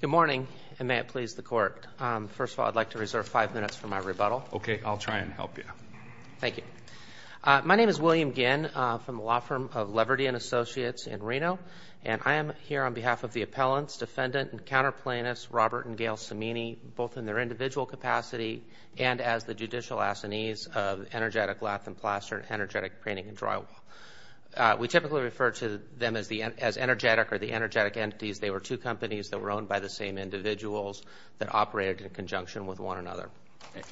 Good morning, and may it please the Court. First of all, I'd like to reserve five minutes for my rebuttal. Okay. I'll try and help you. Thank you. My name is William Ginn from the law firm of Leverty & Associates in Reno, and I am here on behalf of the appellants, defendant and counterplaintiffs Robert and Gail Cimini, both in their individual capacity and as the judicial assinees of Energetic Lath & Plaster and Energetic Painting & Drywall. We typically refer to them as Energetic or the Energetic Entities. They were two companies that were owned by the same individuals that operated in conjunction with one another.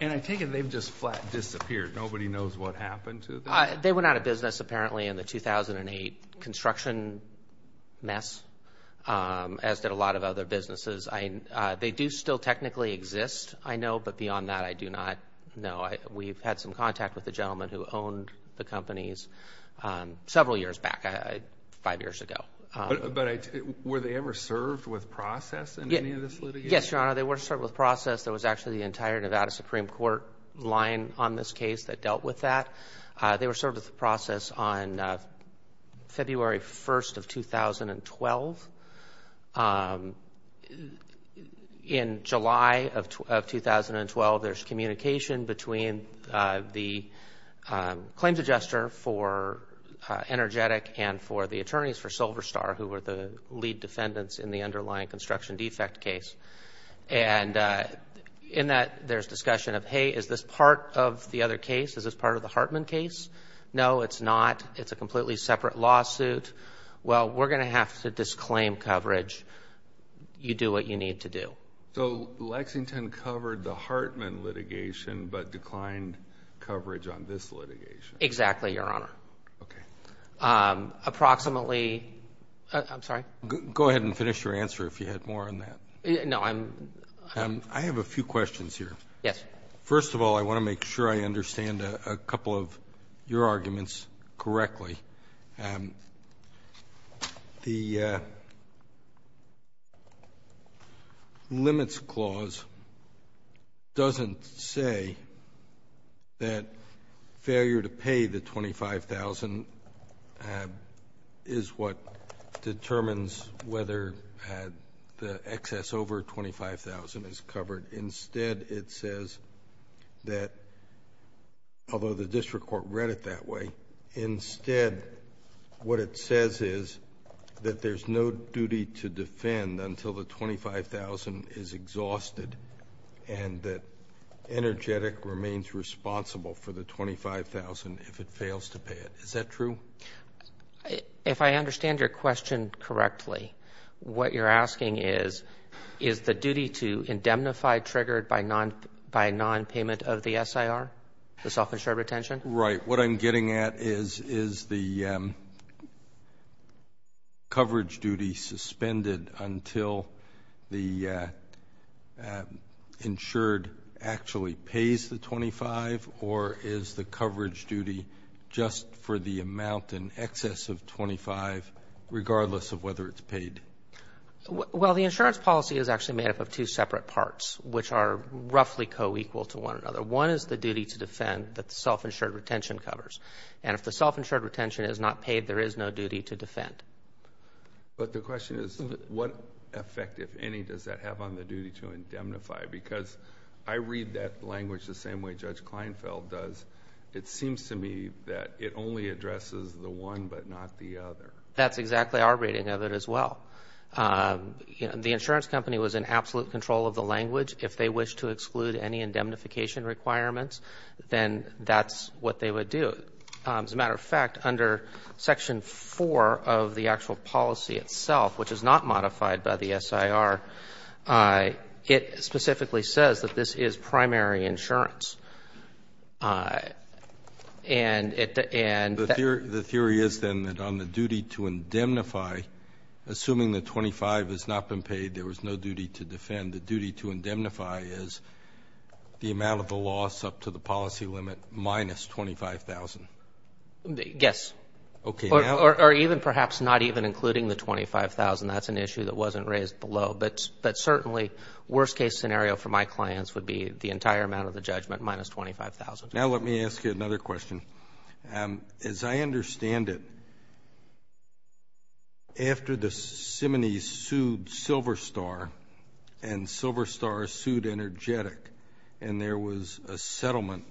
And I take it they've just flat disappeared. Nobody knows what happened to them? They went out of business apparently in the 2008 construction mess, as did a lot of other businesses. They do still technically exist, I know, but beyond that I do not know. We've had some contact with the gentleman who owned the companies several years back, five years ago. But were they ever served with process in any of this litigation? Yes, Your Honor, they were served with process. There was actually the entire Nevada Supreme Court line on this case that dealt with that. They were served with the process on February 1st of 2012. In July of 2012, there's communication between the claims adjuster for Energetic and for the attorneys for Silver Star, who were the lead defendants in the underlying construction defect case. And in that, there's discussion of, hey, is this part of the other case? Is this part of the Hartman case? No, it's not. It's a completely separate lawsuit. Well, we're going to have to disclaim coverage. You do what you need to do. So Lexington covered the Hartman litigation but declined coverage on this litigation? Exactly, Your Honor. Okay. Approximately, I'm sorry? Go ahead and finish your answer if you had more on that. No, I'm. I have a few questions here. Yes. First of all, I want to make sure I understand a couple of your arguments correctly. The limits clause doesn't say that failure to pay the $25,000 is what determines whether the excess over $25,000 is covered. Instead, it says that, although the district court read it that way, instead what it says is that there's no duty to defend until the $25,000 is exhausted and that Energetic remains responsible for the $25,000 if it fails to pay it. Is that true? If I understand your question correctly, what you're asking is, is the duty to indemnify triggered by nonpayment of the SIR, the self-insured retention? Right. What I'm getting at is, is the coverage duty suspended until the insured actually pays the $25,000 or is the coverage duty just for the amount in excess of $25,000, regardless of whether it's paid? Well, the insurance policy is actually made up of two separate parts, which are roughly co-equal to one another. One is the duty to defend that the self-insured retention covers. And if the self-insured retention is not paid, there is no duty to defend. But the question is, what effect, if any, does that have on the duty to indemnify? Because I read that language the same way Judge Kleinfeld does. It seems to me that it only addresses the one but not the other. That's exactly our reading of it as well. The insurance company was in absolute control of the language. If they wish to exclude any indemnification requirements, then that's what they would do. As a matter of fact, under Section 4 of the actual policy itself, which is not modified by the SIR, it specifically says that this is primary insurance. And it doesn't do that. The theory is then that on the duty to indemnify, assuming the $25,000 has not been indemnified, is the amount of the loss up to the policy limit minus $25,000? Yes. Okay. Or even perhaps not even including the $25,000. That's an issue that wasn't raised below. But certainly, worst-case scenario for my clients would be the entire amount of the judgment minus $25,000. Now let me ask you another question. As I understand it, after the Simonees sued Silver Star and Silver Star sued Energetic, and there was a settlement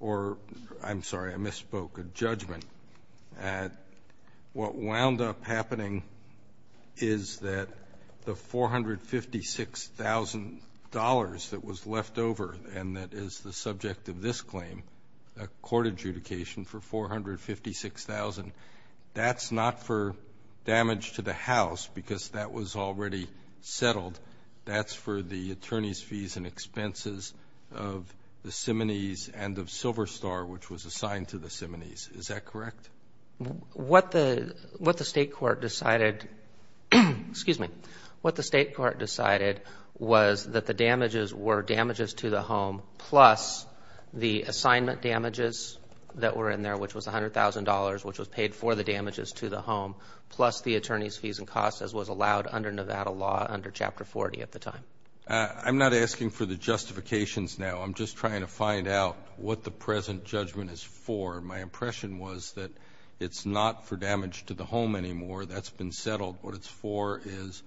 or, I'm sorry, I misspoke, a judgment, what wound up happening is that the $456,000 that was left over and that is the subject of this claim, a court adjudication for $456,000, that's not for damage to the house because that was already settled. That's for the attorney's fees and expenses of the Simonees and of Silver Star, which was assigned to the Simonees. Is that correct? What the State Court decided was that the damages were damages to the home plus the assignment damages that were in there, which was $100,000, which was paid for the damages to the home, plus the attorney's fees and costs as was allowed under Nevada law under Chapter 40 at the time. I'm not asking for the justifications now. I'm just trying to find out what the present judgment is for. My impression was that it's not for damage to the home anymore. That's been settled. What it's for is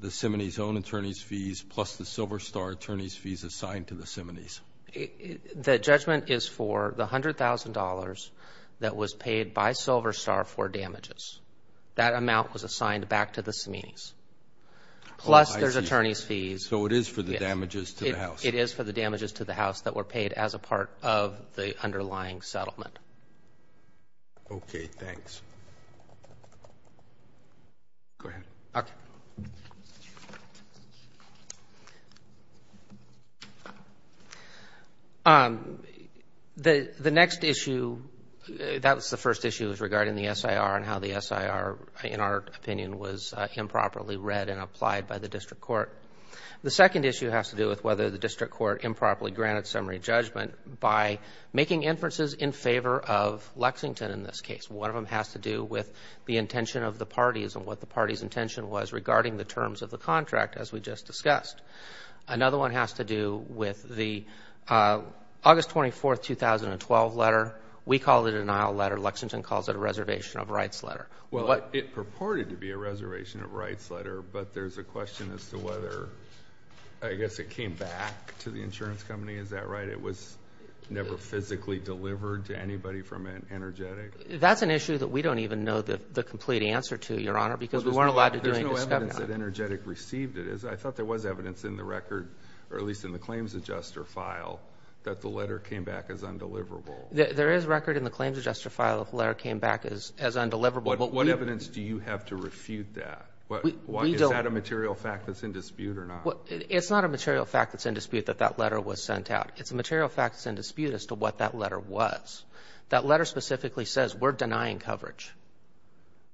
the Simonees' own attorney's fees plus the Silver Star attorney's fees assigned to the Simonees. The judgment is for the $100,000 that was paid by Silver Star for damages. That amount was assigned back to the Simonees, plus there's attorney's fees. So it is for the damages to the house. It is for the damages to the house that were paid as a part of the underlying settlement. Okay. Thanks. Go ahead. Okay. The next issue, that was the first issue, was regarding the SIR and how the SIR, in our opinion, was improperly read and applied by the district court. by making inferences in favor of Lexington in this case. One of them has to do with the intention of the parties and what the party's intention was regarding the terms of the contract, as we just discussed. Another one has to do with the August 24, 2012 letter. We call it a denial letter. Lexington calls it a reservation of rights letter. Well, it purported to be a reservation of rights letter, but there's a question as to whether, I guess, it came back to the insurance company. Is that right? It was never physically delivered to anybody from Energetic? That's an issue that we don't even know the complete answer to, Your Honor, because we weren't allowed to do any discovery on it. There's no evidence that Energetic received it. I thought there was evidence in the record, or at least in the claims adjuster file, that the letter came back as undeliverable. There is record in the claims adjuster file that the letter came back as undeliverable. What evidence do you have to refute that? Is that a material fact that's in dispute or not? It's not a material fact that's in dispute that that letter was sent out. It's a material fact that's in dispute as to what that letter was. That letter specifically says we're denying coverage.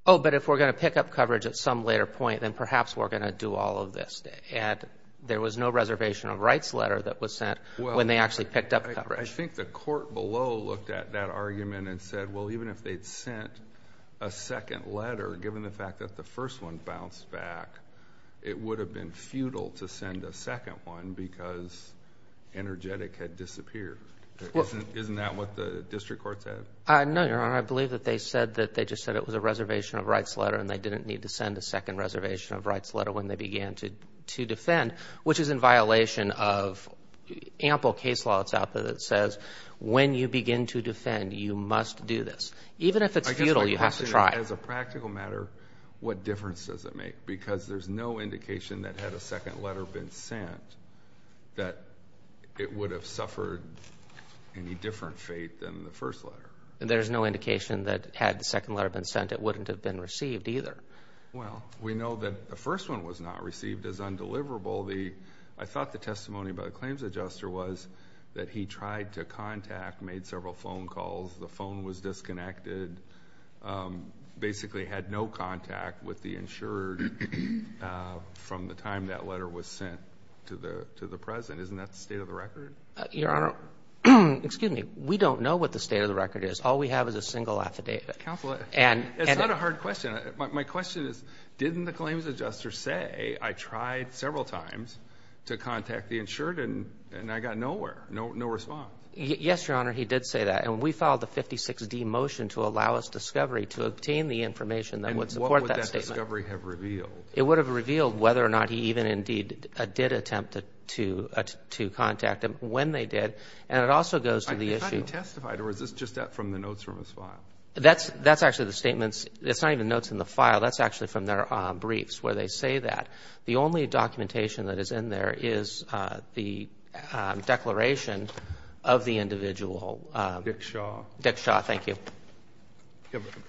Oh, but if we're going to pick up coverage at some later point, then perhaps we're going to do all of this. And there was no reservation of rights letter that was sent when they actually picked up coverage. I think the court below looked at that argument and said, well, even if they'd sent a second letter, given the fact that the first one bounced back, it would have been futile to send a second one because Energetic had disappeared. Isn't that what the district court said? No, Your Honor. I believe that they said that they just said it was a reservation of rights letter and they didn't need to send a second reservation of rights letter when they began to defend, which is in violation of ample case law that's out there that says when you begin to defend, you must do this. Even if it's futile, you have to try. I guess my question is, as a practical matter, what difference does it make? Because there's no indication that had a second letter been sent, that it would have suffered any different fate than the first letter. There's no indication that had the second letter been sent, it wouldn't have been received either. Well, we know that the first one was not received as undeliverable. I thought the testimony by the claims adjuster was that he tried to contact, made several phone calls. The phone was disconnected, basically had no contact with the insurer from the time that letter was sent to the President. Isn't that the state of the record? Your Honor, excuse me. We don't know what the state of the record is. All we have is a single affidavit. Counsel, it's not a hard question. My question is, didn't the claims adjuster say, I tried several times to contact the insured and I got nowhere, no response? Yes, Your Honor, he did say that. And we filed a 56-D motion to allow us discovery to obtain the information that would support that statement. And what would that discovery have revealed? It would have revealed whether or not he even indeed did attempt to contact him when they did. And it also goes to the issue of – I think he testified, or is this just from the notes from his file? That's actually the statements. It's not even notes in the file. That's actually from their briefs where they say that. The only documentation that is in there is the declaration of the individual. Dick Shaw. Dick Shaw, thank you.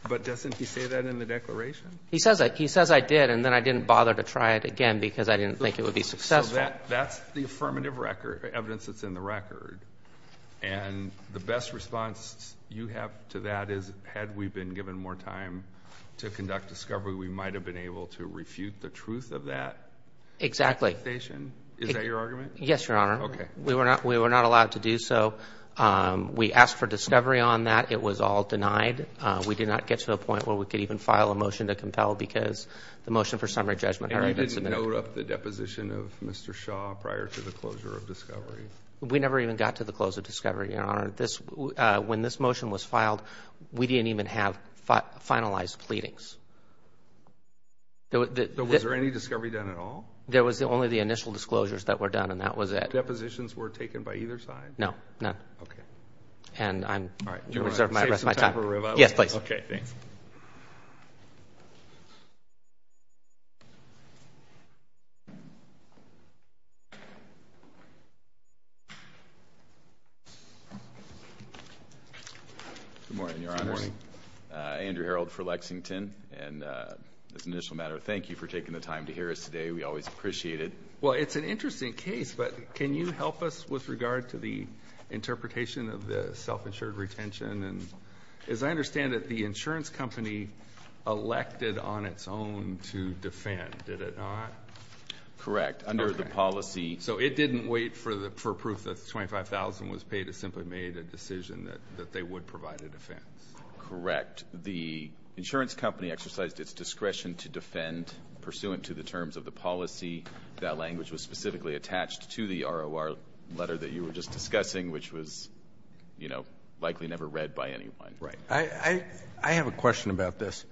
But doesn't he say that in the declaration? He says I did, and then I didn't bother to try it again because I didn't think it would be successful. So that's the affirmative record, evidence that's in the record. And the best response you have to that is had we been given more time to conduct discovery, we might have been able to refute the truth of that accusation? Exactly. Is that your argument? Yes, Your Honor. Okay. We were not allowed to do so. We asked for discovery on that. It was all denied. We did not get to the point where we could even file a motion to compel because the motion for summary judgment had already been submitted. And you didn't note up the deposition of Mr. Shaw prior to the closure of discovery? We never even got to the close of discovery, Your Honor. When this motion was filed, we didn't even have finalized pleadings. Was there any discovery done at all? There was only the initial disclosures that were done, and that was it. Depositions were taken by either side? No, none. Okay. And I'm going to reserve the rest of my time. Do you want to save some time for rebuttal? Yes, please. Okay, thanks. Good morning, Your Honors. Good morning. Andrew Herold for Lexington. And as an initial matter, thank you for taking the time to hear us today. We always appreciate it. Well, it's an interesting case, but can you help us with regard to the interpretation of the self-insured retention? And as I understand it, the insurance company elected on its own to defend, did it not? Correct. Under the policy. So it didn't wait for proof that $25,000 was paid. It simply made a decision that they would provide a defense. Correct. The insurance company exercised its discretion to defend pursuant to the terms of the policy. That language was specifically attached to the ROR letter that you were just discussing, which was, you know, likely never read by anyone. Right. I have a question about this.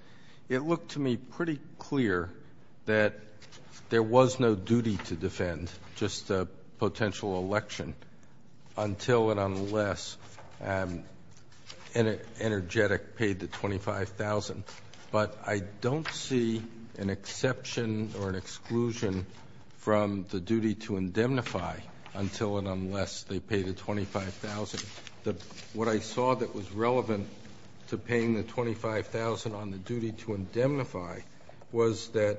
It looked to me pretty clear that there was no duty to defend just a potential election until and unless Energetic paid the $25,000. But I don't see an exception or an exclusion from the duty to indemnify until and unless they pay the $25,000. What I saw that was relevant to paying the $25,000 on the duty to indemnify was that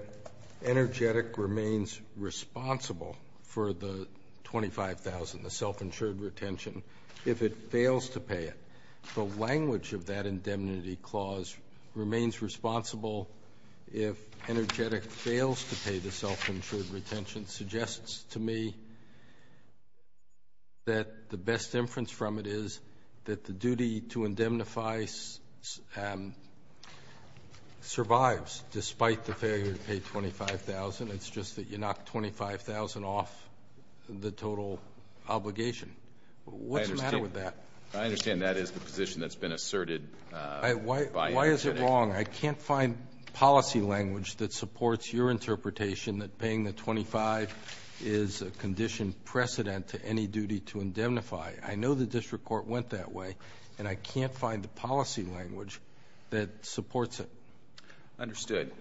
Energetic remains responsible for the $25,000, the self-insured retention, if it fails to pay it. The language of that indemnity clause, remains responsible if Energetic fails to pay the self-insured retention, suggests to me that the best inference from it is that the duty to indemnify survives, despite the failure to pay $25,000. It's just that you knock $25,000 off the total obligation. What's the matter with that? I understand that is the position that's been asserted by Energetic. Why is it wrong? I can't find policy language that supports your interpretation that paying the $25,000 is a condition precedent to any duty to indemnify. I know the district court went that way, and I can't find the policy language that supports it. Understood.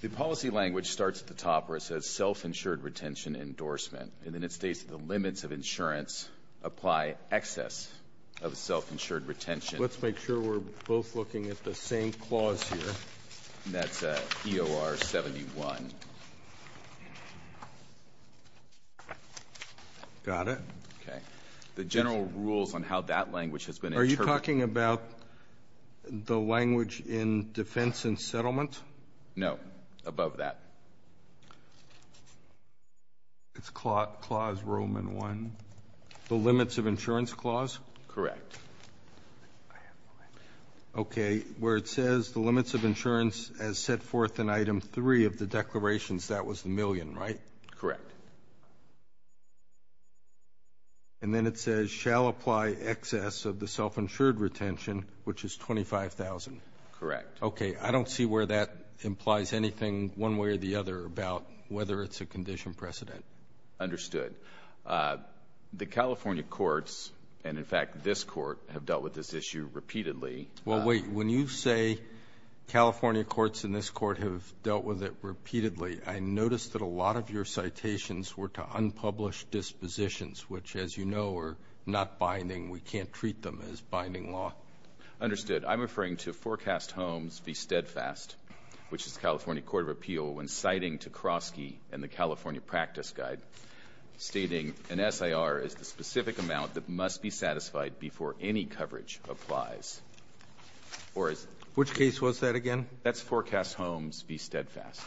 The policy language starts at the top where it says self-insured retention endorsement, and then it states the limits of insurance apply excess of self-insured retention. Let's make sure we're both looking at the same clause here. That's EOR 71. Got it. Okay. The general rules on how that language has been interpreted. Are you talking about the language in defense and settlement? No. Above that. It's clause Roman 1, the limits of insurance clause? Correct. Okay. Where it says the limits of insurance as set forth in item 3 of the declarations, that was the million, right? Correct. And then it says shall apply excess of the self-insured retention, which is $25,000. Correct. Okay. I don't see where that implies anything one way or the other about whether it's a condition precedent. Understood. The California courts, and, in fact, this court, have dealt with this issue repeatedly. Well, wait. When you say California courts and this court have dealt with it repeatedly, I noticed that a lot of your citations were to unpublished dispositions, which, as you know, are not binding. We can't treat them as binding law. Understood. I'm referring to Forecast Homes v. Steadfast, which is the California Court of Appeal when citing Tekroski and the California Practice Guide, stating an SIR is the specific amount that must be satisfied before any coverage applies. Which case was that again? That's Forecast Homes v. Steadfast.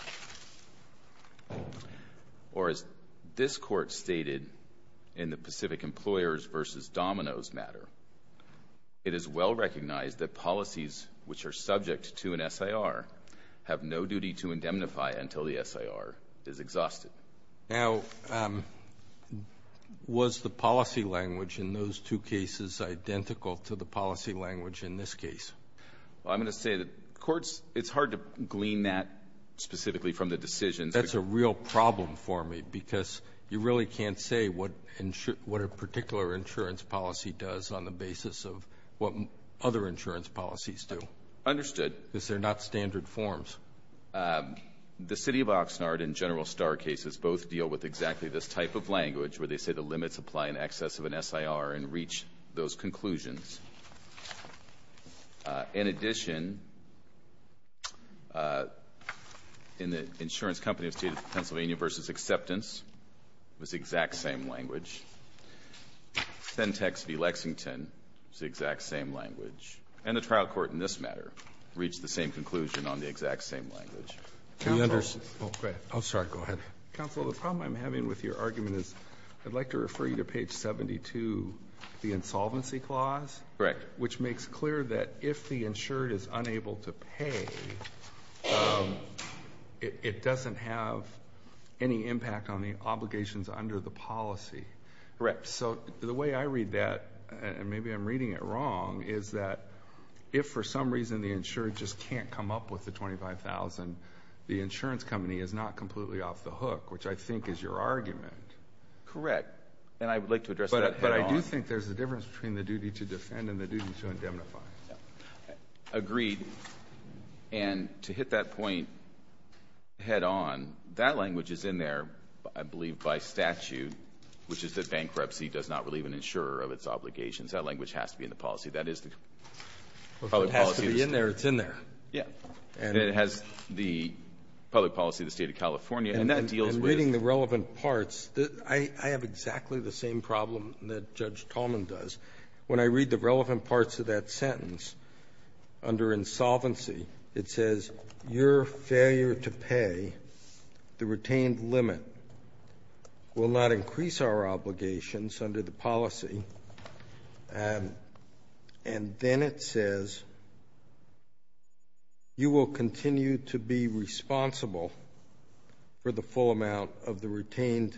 Or as this court stated in the Pacific Employers v. Dominoes matter, it is well recognized that policies which are subject to an SIR have no duty to indemnify until the SIR is exhausted. Now, was the policy language in those two cases identical to the policy language in this case? Well, I'm going to say the courts, it's hard to glean that specifically from the decisions. That's a real problem for me because you really can't say what a particular insurance policy does on the basis of what other insurance policies do. Understood. Because they're not standard forms. The City of Oxnard and General Starr cases both deal with exactly this type of language where they say the limits apply in excess of an SIR and reach those conclusions. In addition, in the insurance company of the State of Pennsylvania v. Acceptance, it was the exact same language. Fentex v. Lexington was the exact same language. And the trial court in this matter reached the same conclusion on the exact same language. Counsel. Oh, sorry. Go ahead. Counsel, the problem I'm having with your argument is I'd like to refer you to page 72, the insolvency clause. Correct. Which makes clear that if the insured is unable to pay, it doesn't have any impact on the obligations under the policy. Correct. So the way I read that, and maybe I'm reading it wrong, is that if for some reason the insured just can't come up with the $25,000, the insurance company is not completely off the hook, which I think is your argument. Correct. And I would like to address that head-on. But I do think there's a difference between the duty to defend and the duty to indemnify. Agreed. And to hit that point head-on, that language is in there, I believe, by statute, which is that bankruptcy does not relieve an insurer of its obligations. That language has to be in the policy. That is the public policy of the State. If it has to be in there, it's in there. Yes. And it has the public policy of the State of California, and that deals with it. I have exactly the same problem that Judge Tallman does. When I read the relevant parts of that sentence, under insolvency, it says, your failure to pay the retained limit will not increase our obligations under the policy. And then it says, you will continue to be responsible for the full amount of the retained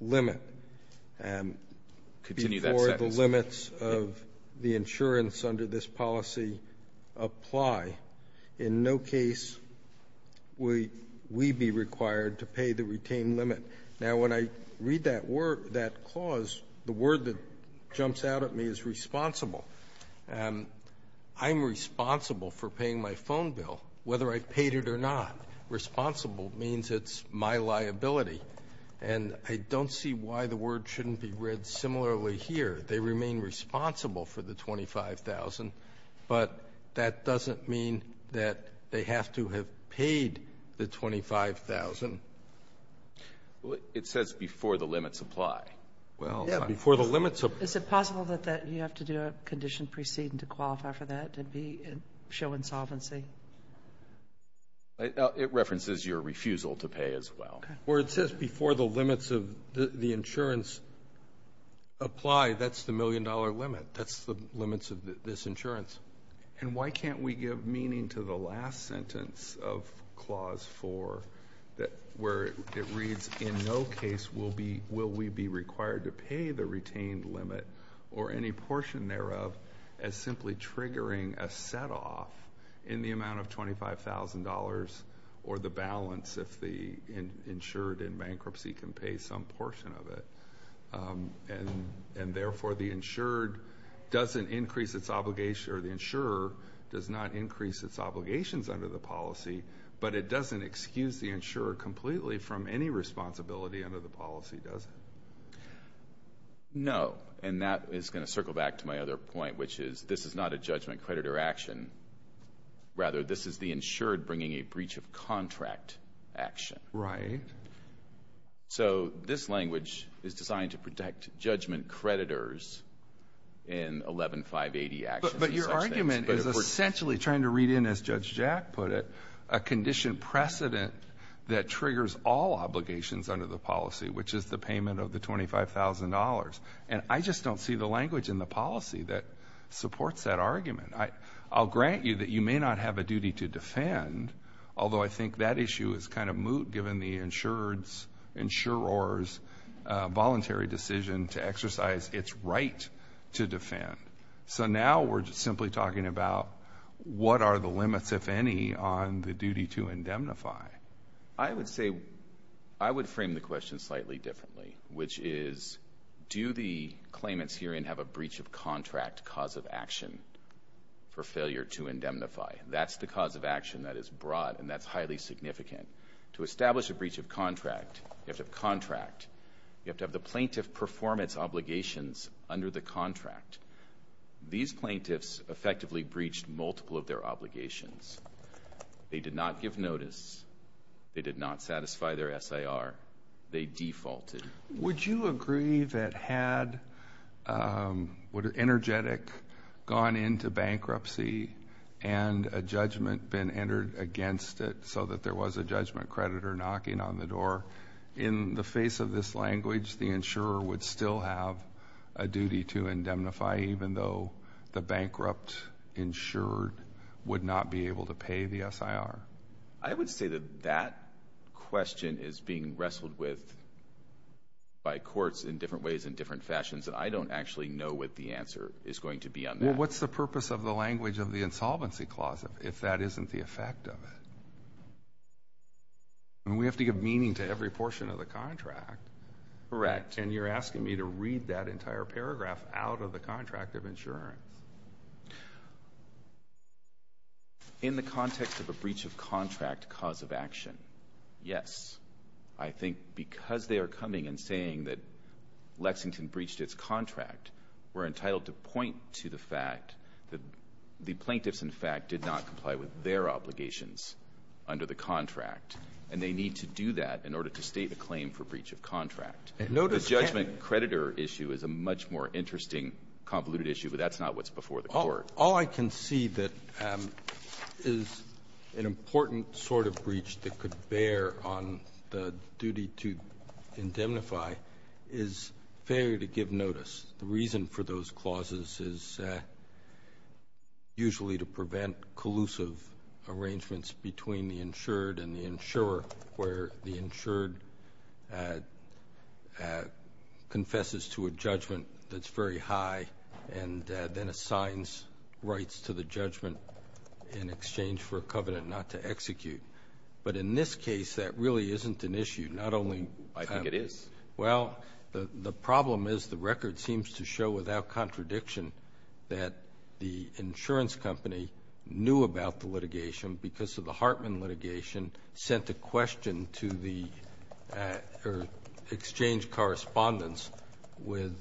limit before the limits of the insurance under this policy apply. In no case will we be required to pay the retained limit. Now, when I read that clause, the word that jumps out at me is responsible. I'm responsible for paying my phone bill, whether I paid it or not. Responsible means it's my liability. And I don't see why the word shouldn't be read similarly here. They remain responsible for the $25,000, but that doesn't mean that they have to have paid the $25,000. Well, it says before the limits apply. Well, before the limits apply. Is it possible that you have to do a condition preceding to qualify for that to be show insolvency? It references your refusal to pay as well. Well, it says before the limits of the insurance apply. That's the million-dollar limit. That's the limits of this insurance. And why can't we give meaning to the last sentence of Clause 4 where it reads, in no case will we be required to pay the retained limit or any portion thereof as insured in bankruptcy can pay some portion of it. And, therefore, the insured doesn't increase its obligation or the insurer does not increase its obligations under the policy, but it doesn't excuse the insurer completely from any responsibility under the policy, does it? No, and that is going to circle back to my other point, which is this is not a judgment, credit, or action. Rather, this is the insured bringing a breach of contract action. Right. So this language is designed to protect judgment creditors in 11-580 actions. But your argument is essentially trying to read in, as Judge Jack put it, a condition precedent that triggers all obligations under the policy, which is the payment of the $25,000. And I just don't see the language in the policy that supports that argument. Although I think that issue is kind of moot, given the insurer's voluntary decision to exercise its right to defend. So now we're simply talking about what are the limits, if any, on the duty to indemnify. I would say I would frame the question slightly differently, which is do the claimants herein have a breach of contract cause of action for failure to indemnify? That's the cause of action that is brought, and that's highly significant. To establish a breach of contract, you have to have contract. You have to have the plaintiff perform its obligations under the contract. These plaintiffs effectively breached multiple of their obligations. They did not give notice. They did not satisfy their SIR. They defaulted. Would you agree that had Energetic gone into bankruptcy and a judgment been entered against it so that there was a judgment creditor knocking on the door, in the face of this language, the insurer would still have a duty to indemnify, even though the bankrupt insurer would not be able to pay the SIR? I would say that that question is being wrestled with by courts in different ways and different fashions, and I don't actually know what the answer is going to be on that. Well, what's the purpose of the language of the insolvency clause if that isn't the effect of it? I mean, we have to give meaning to every portion of the contract. Correct. And you're asking me to read that entire paragraph out of the contract of insurance. In the context of a breach of contract cause of action, yes. I think because they are coming and saying that Lexington breached its contract, we're entitled to point to the fact that the plaintiffs, in fact, did not comply with their obligations under the contract, and they need to do that in order to state a claim for breach of contract. And notice the judgment creditor issue is a much more interesting convoluted issue, but that's not what's before the court. All I can see that is an important sort of breach that could bear on the duty to indemnify is failure to give notice. The reason for those clauses is usually to prevent collusive arrangements between the insured and the insurer where the insured confesses to a judgment that's very high and then assigns rights to the judgment in exchange for a covenant not to execute. But in this case, that really isn't an issue. Not only do I think it is. Well, the problem is the record seems to show without contradiction that the insurance company knew about the litigation because of the Hartman litigation sent a question to the exchange correspondence with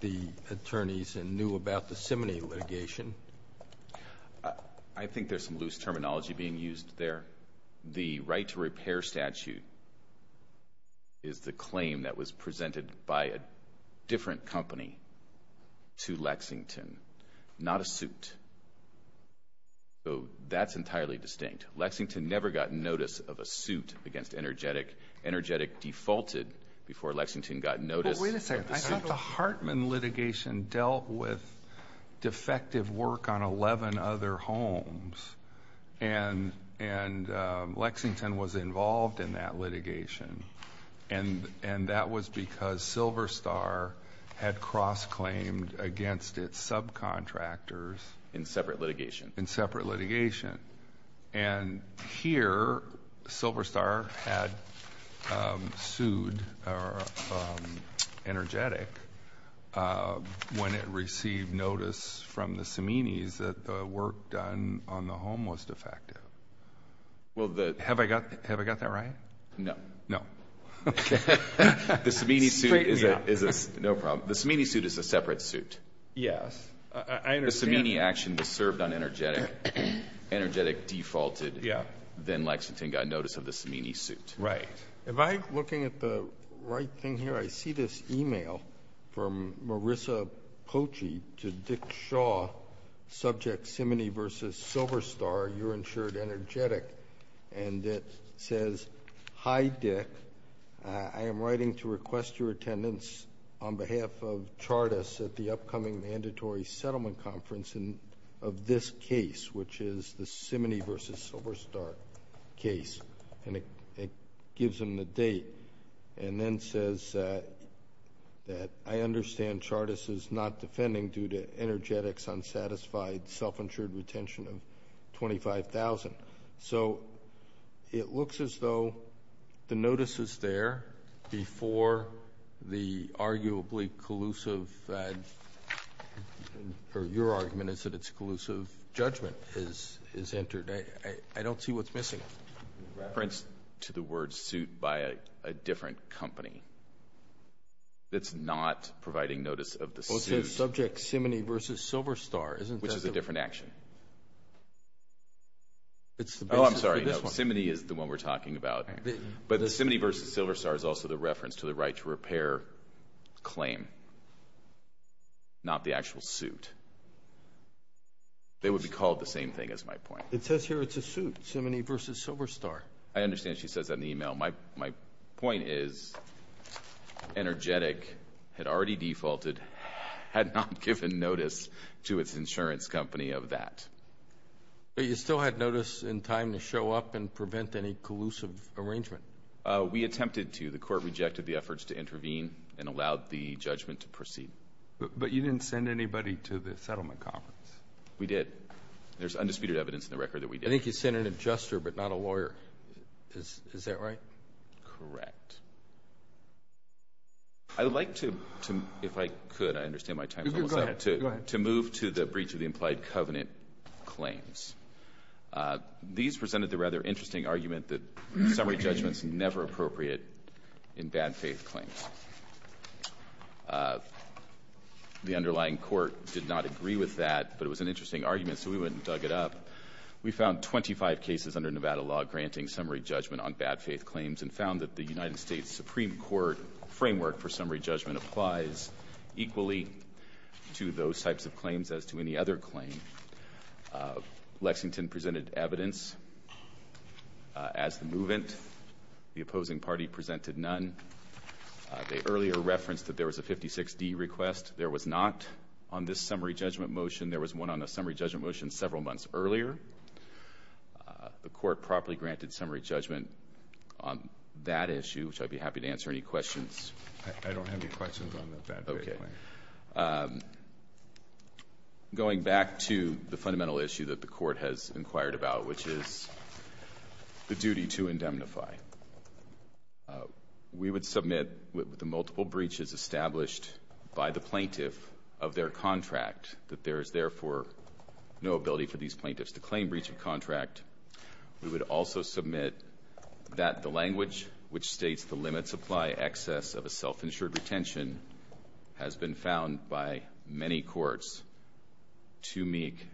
the attorneys and knew about the Simony litigation. I think there's some loose terminology being used there. The right to repair statute is the claim that was presented by a different company to Lexington, not a suit. So that's entirely distinct. Lexington never got notice of a suit against Energetic. Energetic defaulted before Lexington got notice. But wait a second. I thought the Hartman litigation dealt with defective work on 11 other homes. And Lexington was involved in that litigation. And that was because Silver Star had cross-claimed against its subcontractors. In separate litigation. In separate litigation. And here, Silver Star had sued Energetic when it received notice from the Simony's that the work done on the home was defective. Have I got that right? No. No. Okay. The Simony suit is a separate suit. Yes. I understand. Simony action was served on Energetic. Energetic defaulted. Then Lexington got notice of the Simony suit. Right. If I'm looking at the right thing here, I see this e-mail from Marissa Poche to Dick Shaw, subject Simony versus Silver Star, you're insured Energetic. And it says, Hi, Dick. I am writing to request your attendance on behalf of Chartus at the upcoming mandatory settlement conference of this case, which is the Simony versus Silver Star case. And it gives them the date. And then says that I understand Chartus is not defending due to Energetic's unsatisfied self-insured retention of $25,000. So it looks as though the notice is there before the arguably collusive or your argument is that it's collusive judgment is entered. I don't see what's missing. It points to the word suit by a different company. It's not providing notice of the suit. Well, it says subject Simony versus Silver Star. Which is a different action. Oh, I'm sorry. Simony is the one we're talking about. But the Simony versus Silver Star is also the reference to the right to repair claim, not the actual suit. They would be called the same thing is my point. It says here it's a suit, Simony versus Silver Star. I understand she says that in the e-mail. My point is Energetic had already defaulted, had not given notice to its insurance company of that. But you still had notice in time to show up and prevent any collusive arrangement. We attempted to. The court rejected the efforts to intervene and allowed the judgment to proceed. But you didn't send anybody to the settlement conference. We did. There's undisputed evidence in the record that we did. I think you sent an adjuster but not a lawyer. Is that right? Correct. I would like to, if I could, I understand my time is almost up, to move to the breach of the implied covenant claims. These presented the rather interesting argument that summary judgment is never appropriate in bad faith claims. The underlying court did not agree with that, but it was an interesting argument, so we went and dug it up. We found 25 cases under Nevada law granting summary judgment on bad faith claims and found that the United States Supreme Court framework for summary judgment applies equally to those types of claims as to any other claim. Lexington presented evidence as the movement. The opposing party presented none. They earlier referenced that there was a 56D request. There was not on this summary judgment motion. There was one on the summary judgment motion several months earlier. The court properly granted summary judgment on that issue, which I'd be happy to answer any questions. I don't have any questions on the bad faith claim. Okay. Going back to the fundamental issue that the court has inquired about, which is the duty to indemnify. We would submit with the multiple breaches established by the plaintiff of their contract that there is, therefore, no ability for these plaintiffs to claim breach of contract. We would also submit that the language which states the limits apply excess of a self-insured retention has been found by many courts to make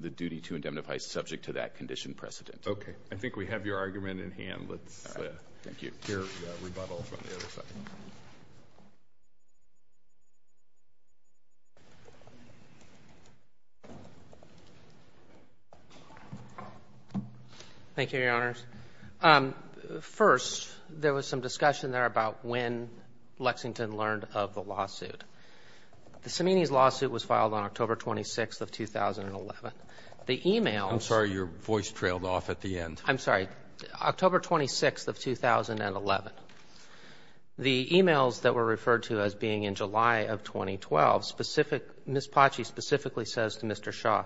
the duty to indemnify subject to that condition precedent. Okay. I think we have your argument in hand. Let's hear rebuttal from the other side. Thank you, Your Honors. First, there was some discussion there about when Lexington learned of the lawsuit. The Semeny's lawsuit was filed on October 26th of 2011. The e-mail ---- I'm sorry. Your voice trailed off at the end. I'm sorry. October 26th of 2011. The e-mails that were referred to as being in July of 2012, specific ---- Ms. Pachi specifically says to Mr. Shaw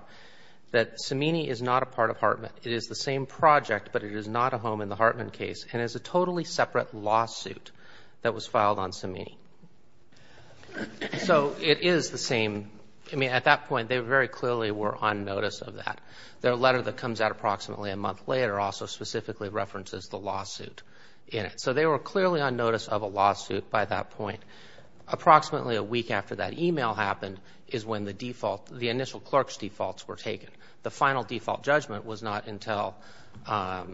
that Semeny is not a part of Hartman. It is the same project, but it is not a home in the Hartman case and is a totally separate lawsuit that was filed on Semeny. So it is the same. I mean, at that point, they very clearly were on notice of that. Their letter that comes out approximately a month later also specifically references the lawsuit in it. So they were clearly on notice of a lawsuit by that point. Approximately a week after that e-mail happened is when the default, the initial clerk's defaults were taken. The final default judgment was not until ----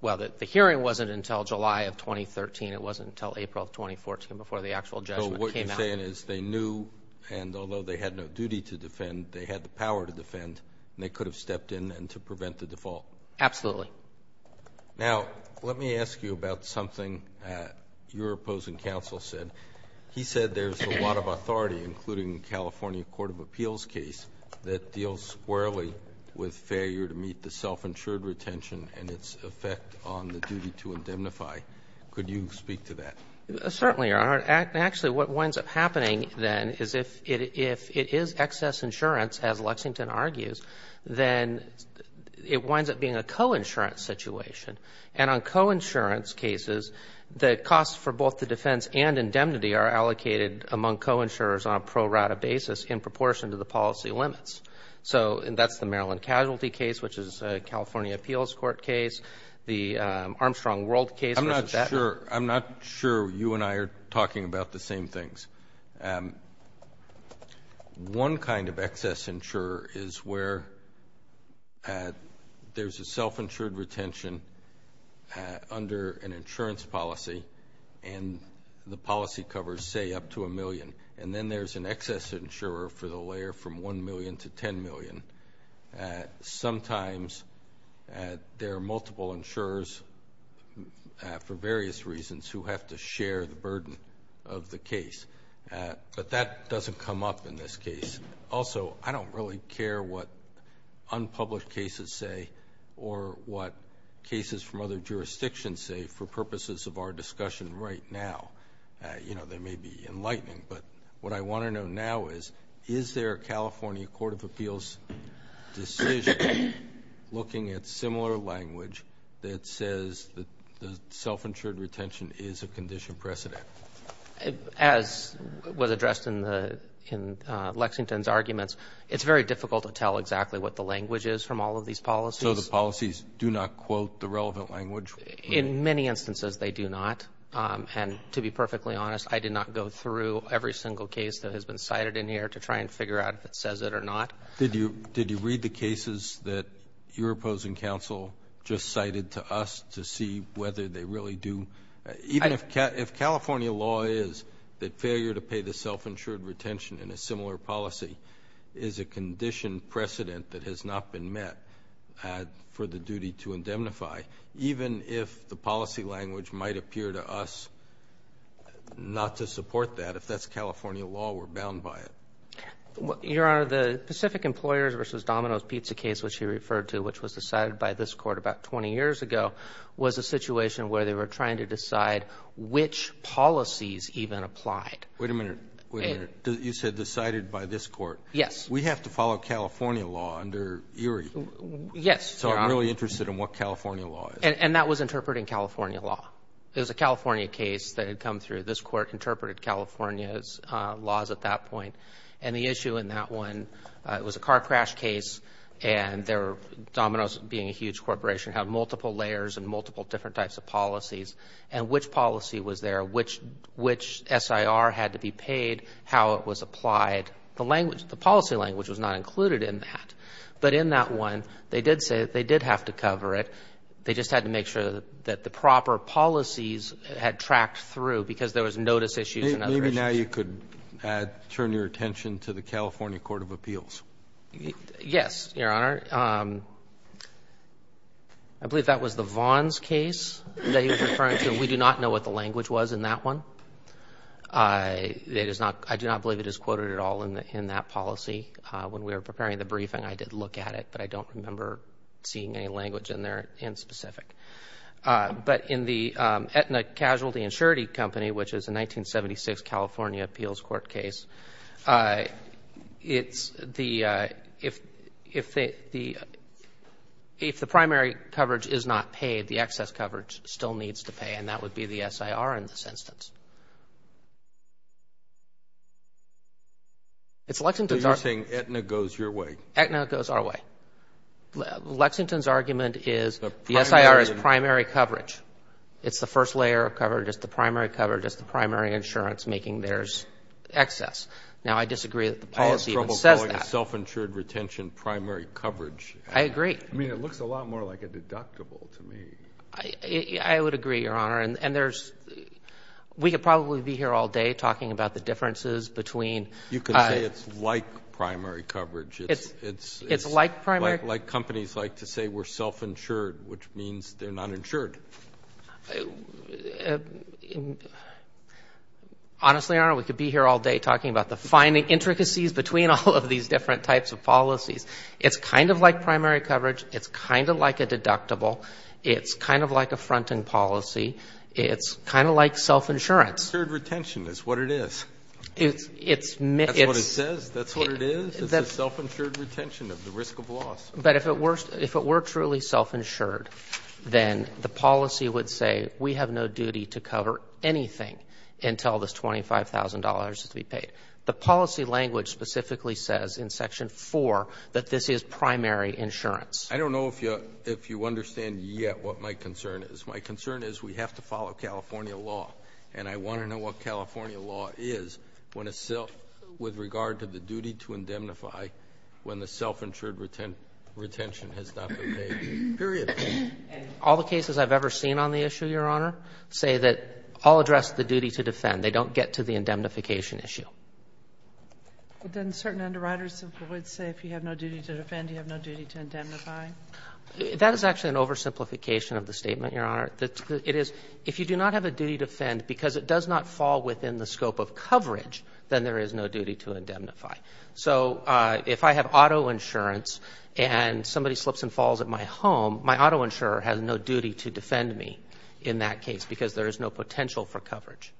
well, the hearing wasn't until July of 2013. It wasn't until April of 2014 before the actual judgment came out. And they had the power to defend, and they could have stepped in and to prevent the default. Absolutely. Now, let me ask you about something your opposing counsel said. He said there's a lot of authority, including California court of appeals case, that deals squarely with failure to meet the self-insured retention and its effect on the duty to indemnify. Could you speak to that? Certainly, Your Honor. Actually, what winds up happening, then, is if it is excess insurance, as Lexington argues, then it winds up being a coinsurance situation. And on coinsurance cases, the costs for both the defense and indemnity are allocated among coinsurers on a pro rata basis in proportion to the policy limits. So that's the Maryland casualty case, which is a California appeals court case, the Armstrong World case. I'm not sure you and I are talking about the same things. One kind of excess insurer is where there's a self-insured retention under an insurance policy, and the policy covers, say, up to a million. And then there's an excess insurer for the layer from 1 million to 10 million. Sometimes, there are multiple insurers, for various reasons, who have to share the burden of the case. But that doesn't come up in this case. Also, I don't really care what unpublished cases say or what cases from other jurisdictions say for purposes of our discussion right now. They may be enlightening, but what I want to know now is, is there a California court of appeals decision looking at similar language that says that the self-insured retention is a condition precedent? As was addressed in Lexington's arguments, it's very difficult to tell exactly what the language is from all of these policies. So the policies do not quote the relevant language? In many instances, they do not. And to be perfectly honest, I did not go through every single case that has been cited in here to try and figure out if it says it or not. Did you read the cases that your opposing counsel just cited to us to see whether they really do? Even if California law is that failure to pay the self-insured retention in a similar policy is a condition precedent that has not been met for the duty to indemnify, even if the policy language might appear to us not to support that, if that's California law, we're bound by it. Your Honor, the Pacific Employers v. Domino's pizza case, which you referred to, which was decided by this Court about 20 years ago, was a situation where they were trying to decide which policies even applied. Wait a minute. Wait a minute. You said decided by this Court. Yes. We have to follow California law under Erie. Yes, Your Honor. So I'm really interested in what California law is. And that was interpreting California law. It was a California case that had come through. This Court interpreted California's laws at that point. And the issue in that one, it was a car crash case, and Domino's being a huge corporation had multiple layers and multiple different types of policies, and which policy was there, which SIR had to be paid, how it was applied. The policy language was not included in that. But in that one, they did say that they did have to cover it. They just had to make sure that the proper policies had tracked through because there was notice issues and other issues. Maybe now you could add, turn your attention to the California court of appeals. Yes, Your Honor. I believe that was the Vaughn's case that he was referring to. We do not know what the language was in that one. I do not believe it is quoted at all in that policy. When we were preparing the briefing, I did look at it, but I don't remember seeing any language in there in specific. But in the Aetna Casualty Insurance Company, which is a 1976 California appeals court case, it's the ‑‑ if the primary coverage is not paid, the excess coverage still needs to pay, and that would be the SIR in this instance. It's Lexington's ‑‑ So you're saying Aetna goes your way. Aetna goes our way. Lexington's argument is the SIR is primary coverage. It's the first layer of coverage. It's the primary coverage. It's the primary insurance making theirs excess. Now, I disagree that the policy even says that. I have trouble calling it self‑insured retention primary coverage. I agree. I mean, it looks a lot more like a deductible to me. I would agree, Your Honor. And there's ‑‑ we could probably be here all day talking about the differences between ‑‑ You could say it's like primary coverage. It's like primary ‑‑ Like companies like to say we're self‑insured, which means they're not insured. Honestly, Your Honor, we could be here all day talking about the finding intricacies between all of these different types of policies. It's kind of like primary coverage. It's kind of like a deductible. It's kind of like a fronting policy. It's kind of like self‑insurance. Self‑insured retention is what it is. It's ‑‑ That's what it says. That's what it is. It's a self‑insured retention of the risk of loss. But if it were truly self‑insured, then the policy would say we have no duty to cover anything until this $25,000 is to be paid. The policy language specifically says in Section 4 that this is primary insurance. I don't know if you understand yet what my concern is. My concern is we have to follow California law. And I want to know what California law is with regard to the duty to indemnify when the self‑insured retention has not been paid. Period. All the cases I've ever seen on the issue, Your Honor, say that all address the duty to defend. They don't get to the indemnification issue. But then certain underwriters simply would say if you have no duty to defend, you have no duty to indemnify. That is actually an oversimplification of the statement, Your Honor. It is if you do not have a duty to defend because it does not fall within the scope of coverage, then there is no duty to indemnify. So if I have auto insurance and somebody slips and falls at my home, my auto insurer has no duty to defend me in that case because there is no potential for coverage.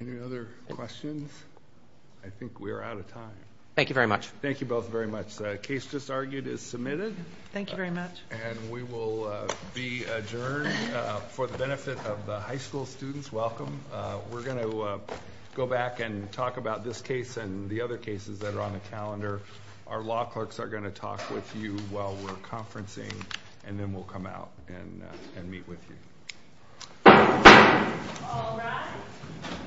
Any other questions? I think we are out of time. Thank you very much. Thank you both very much. The case just argued is submitted. Thank you very much. And we will be adjourned for the benefit of the high school students. Welcome. We're going to go back and talk about this case and the other cases that are on the calendar. Our law clerks are going to talk with you while we're conferencing. And then we'll come out and meet with you.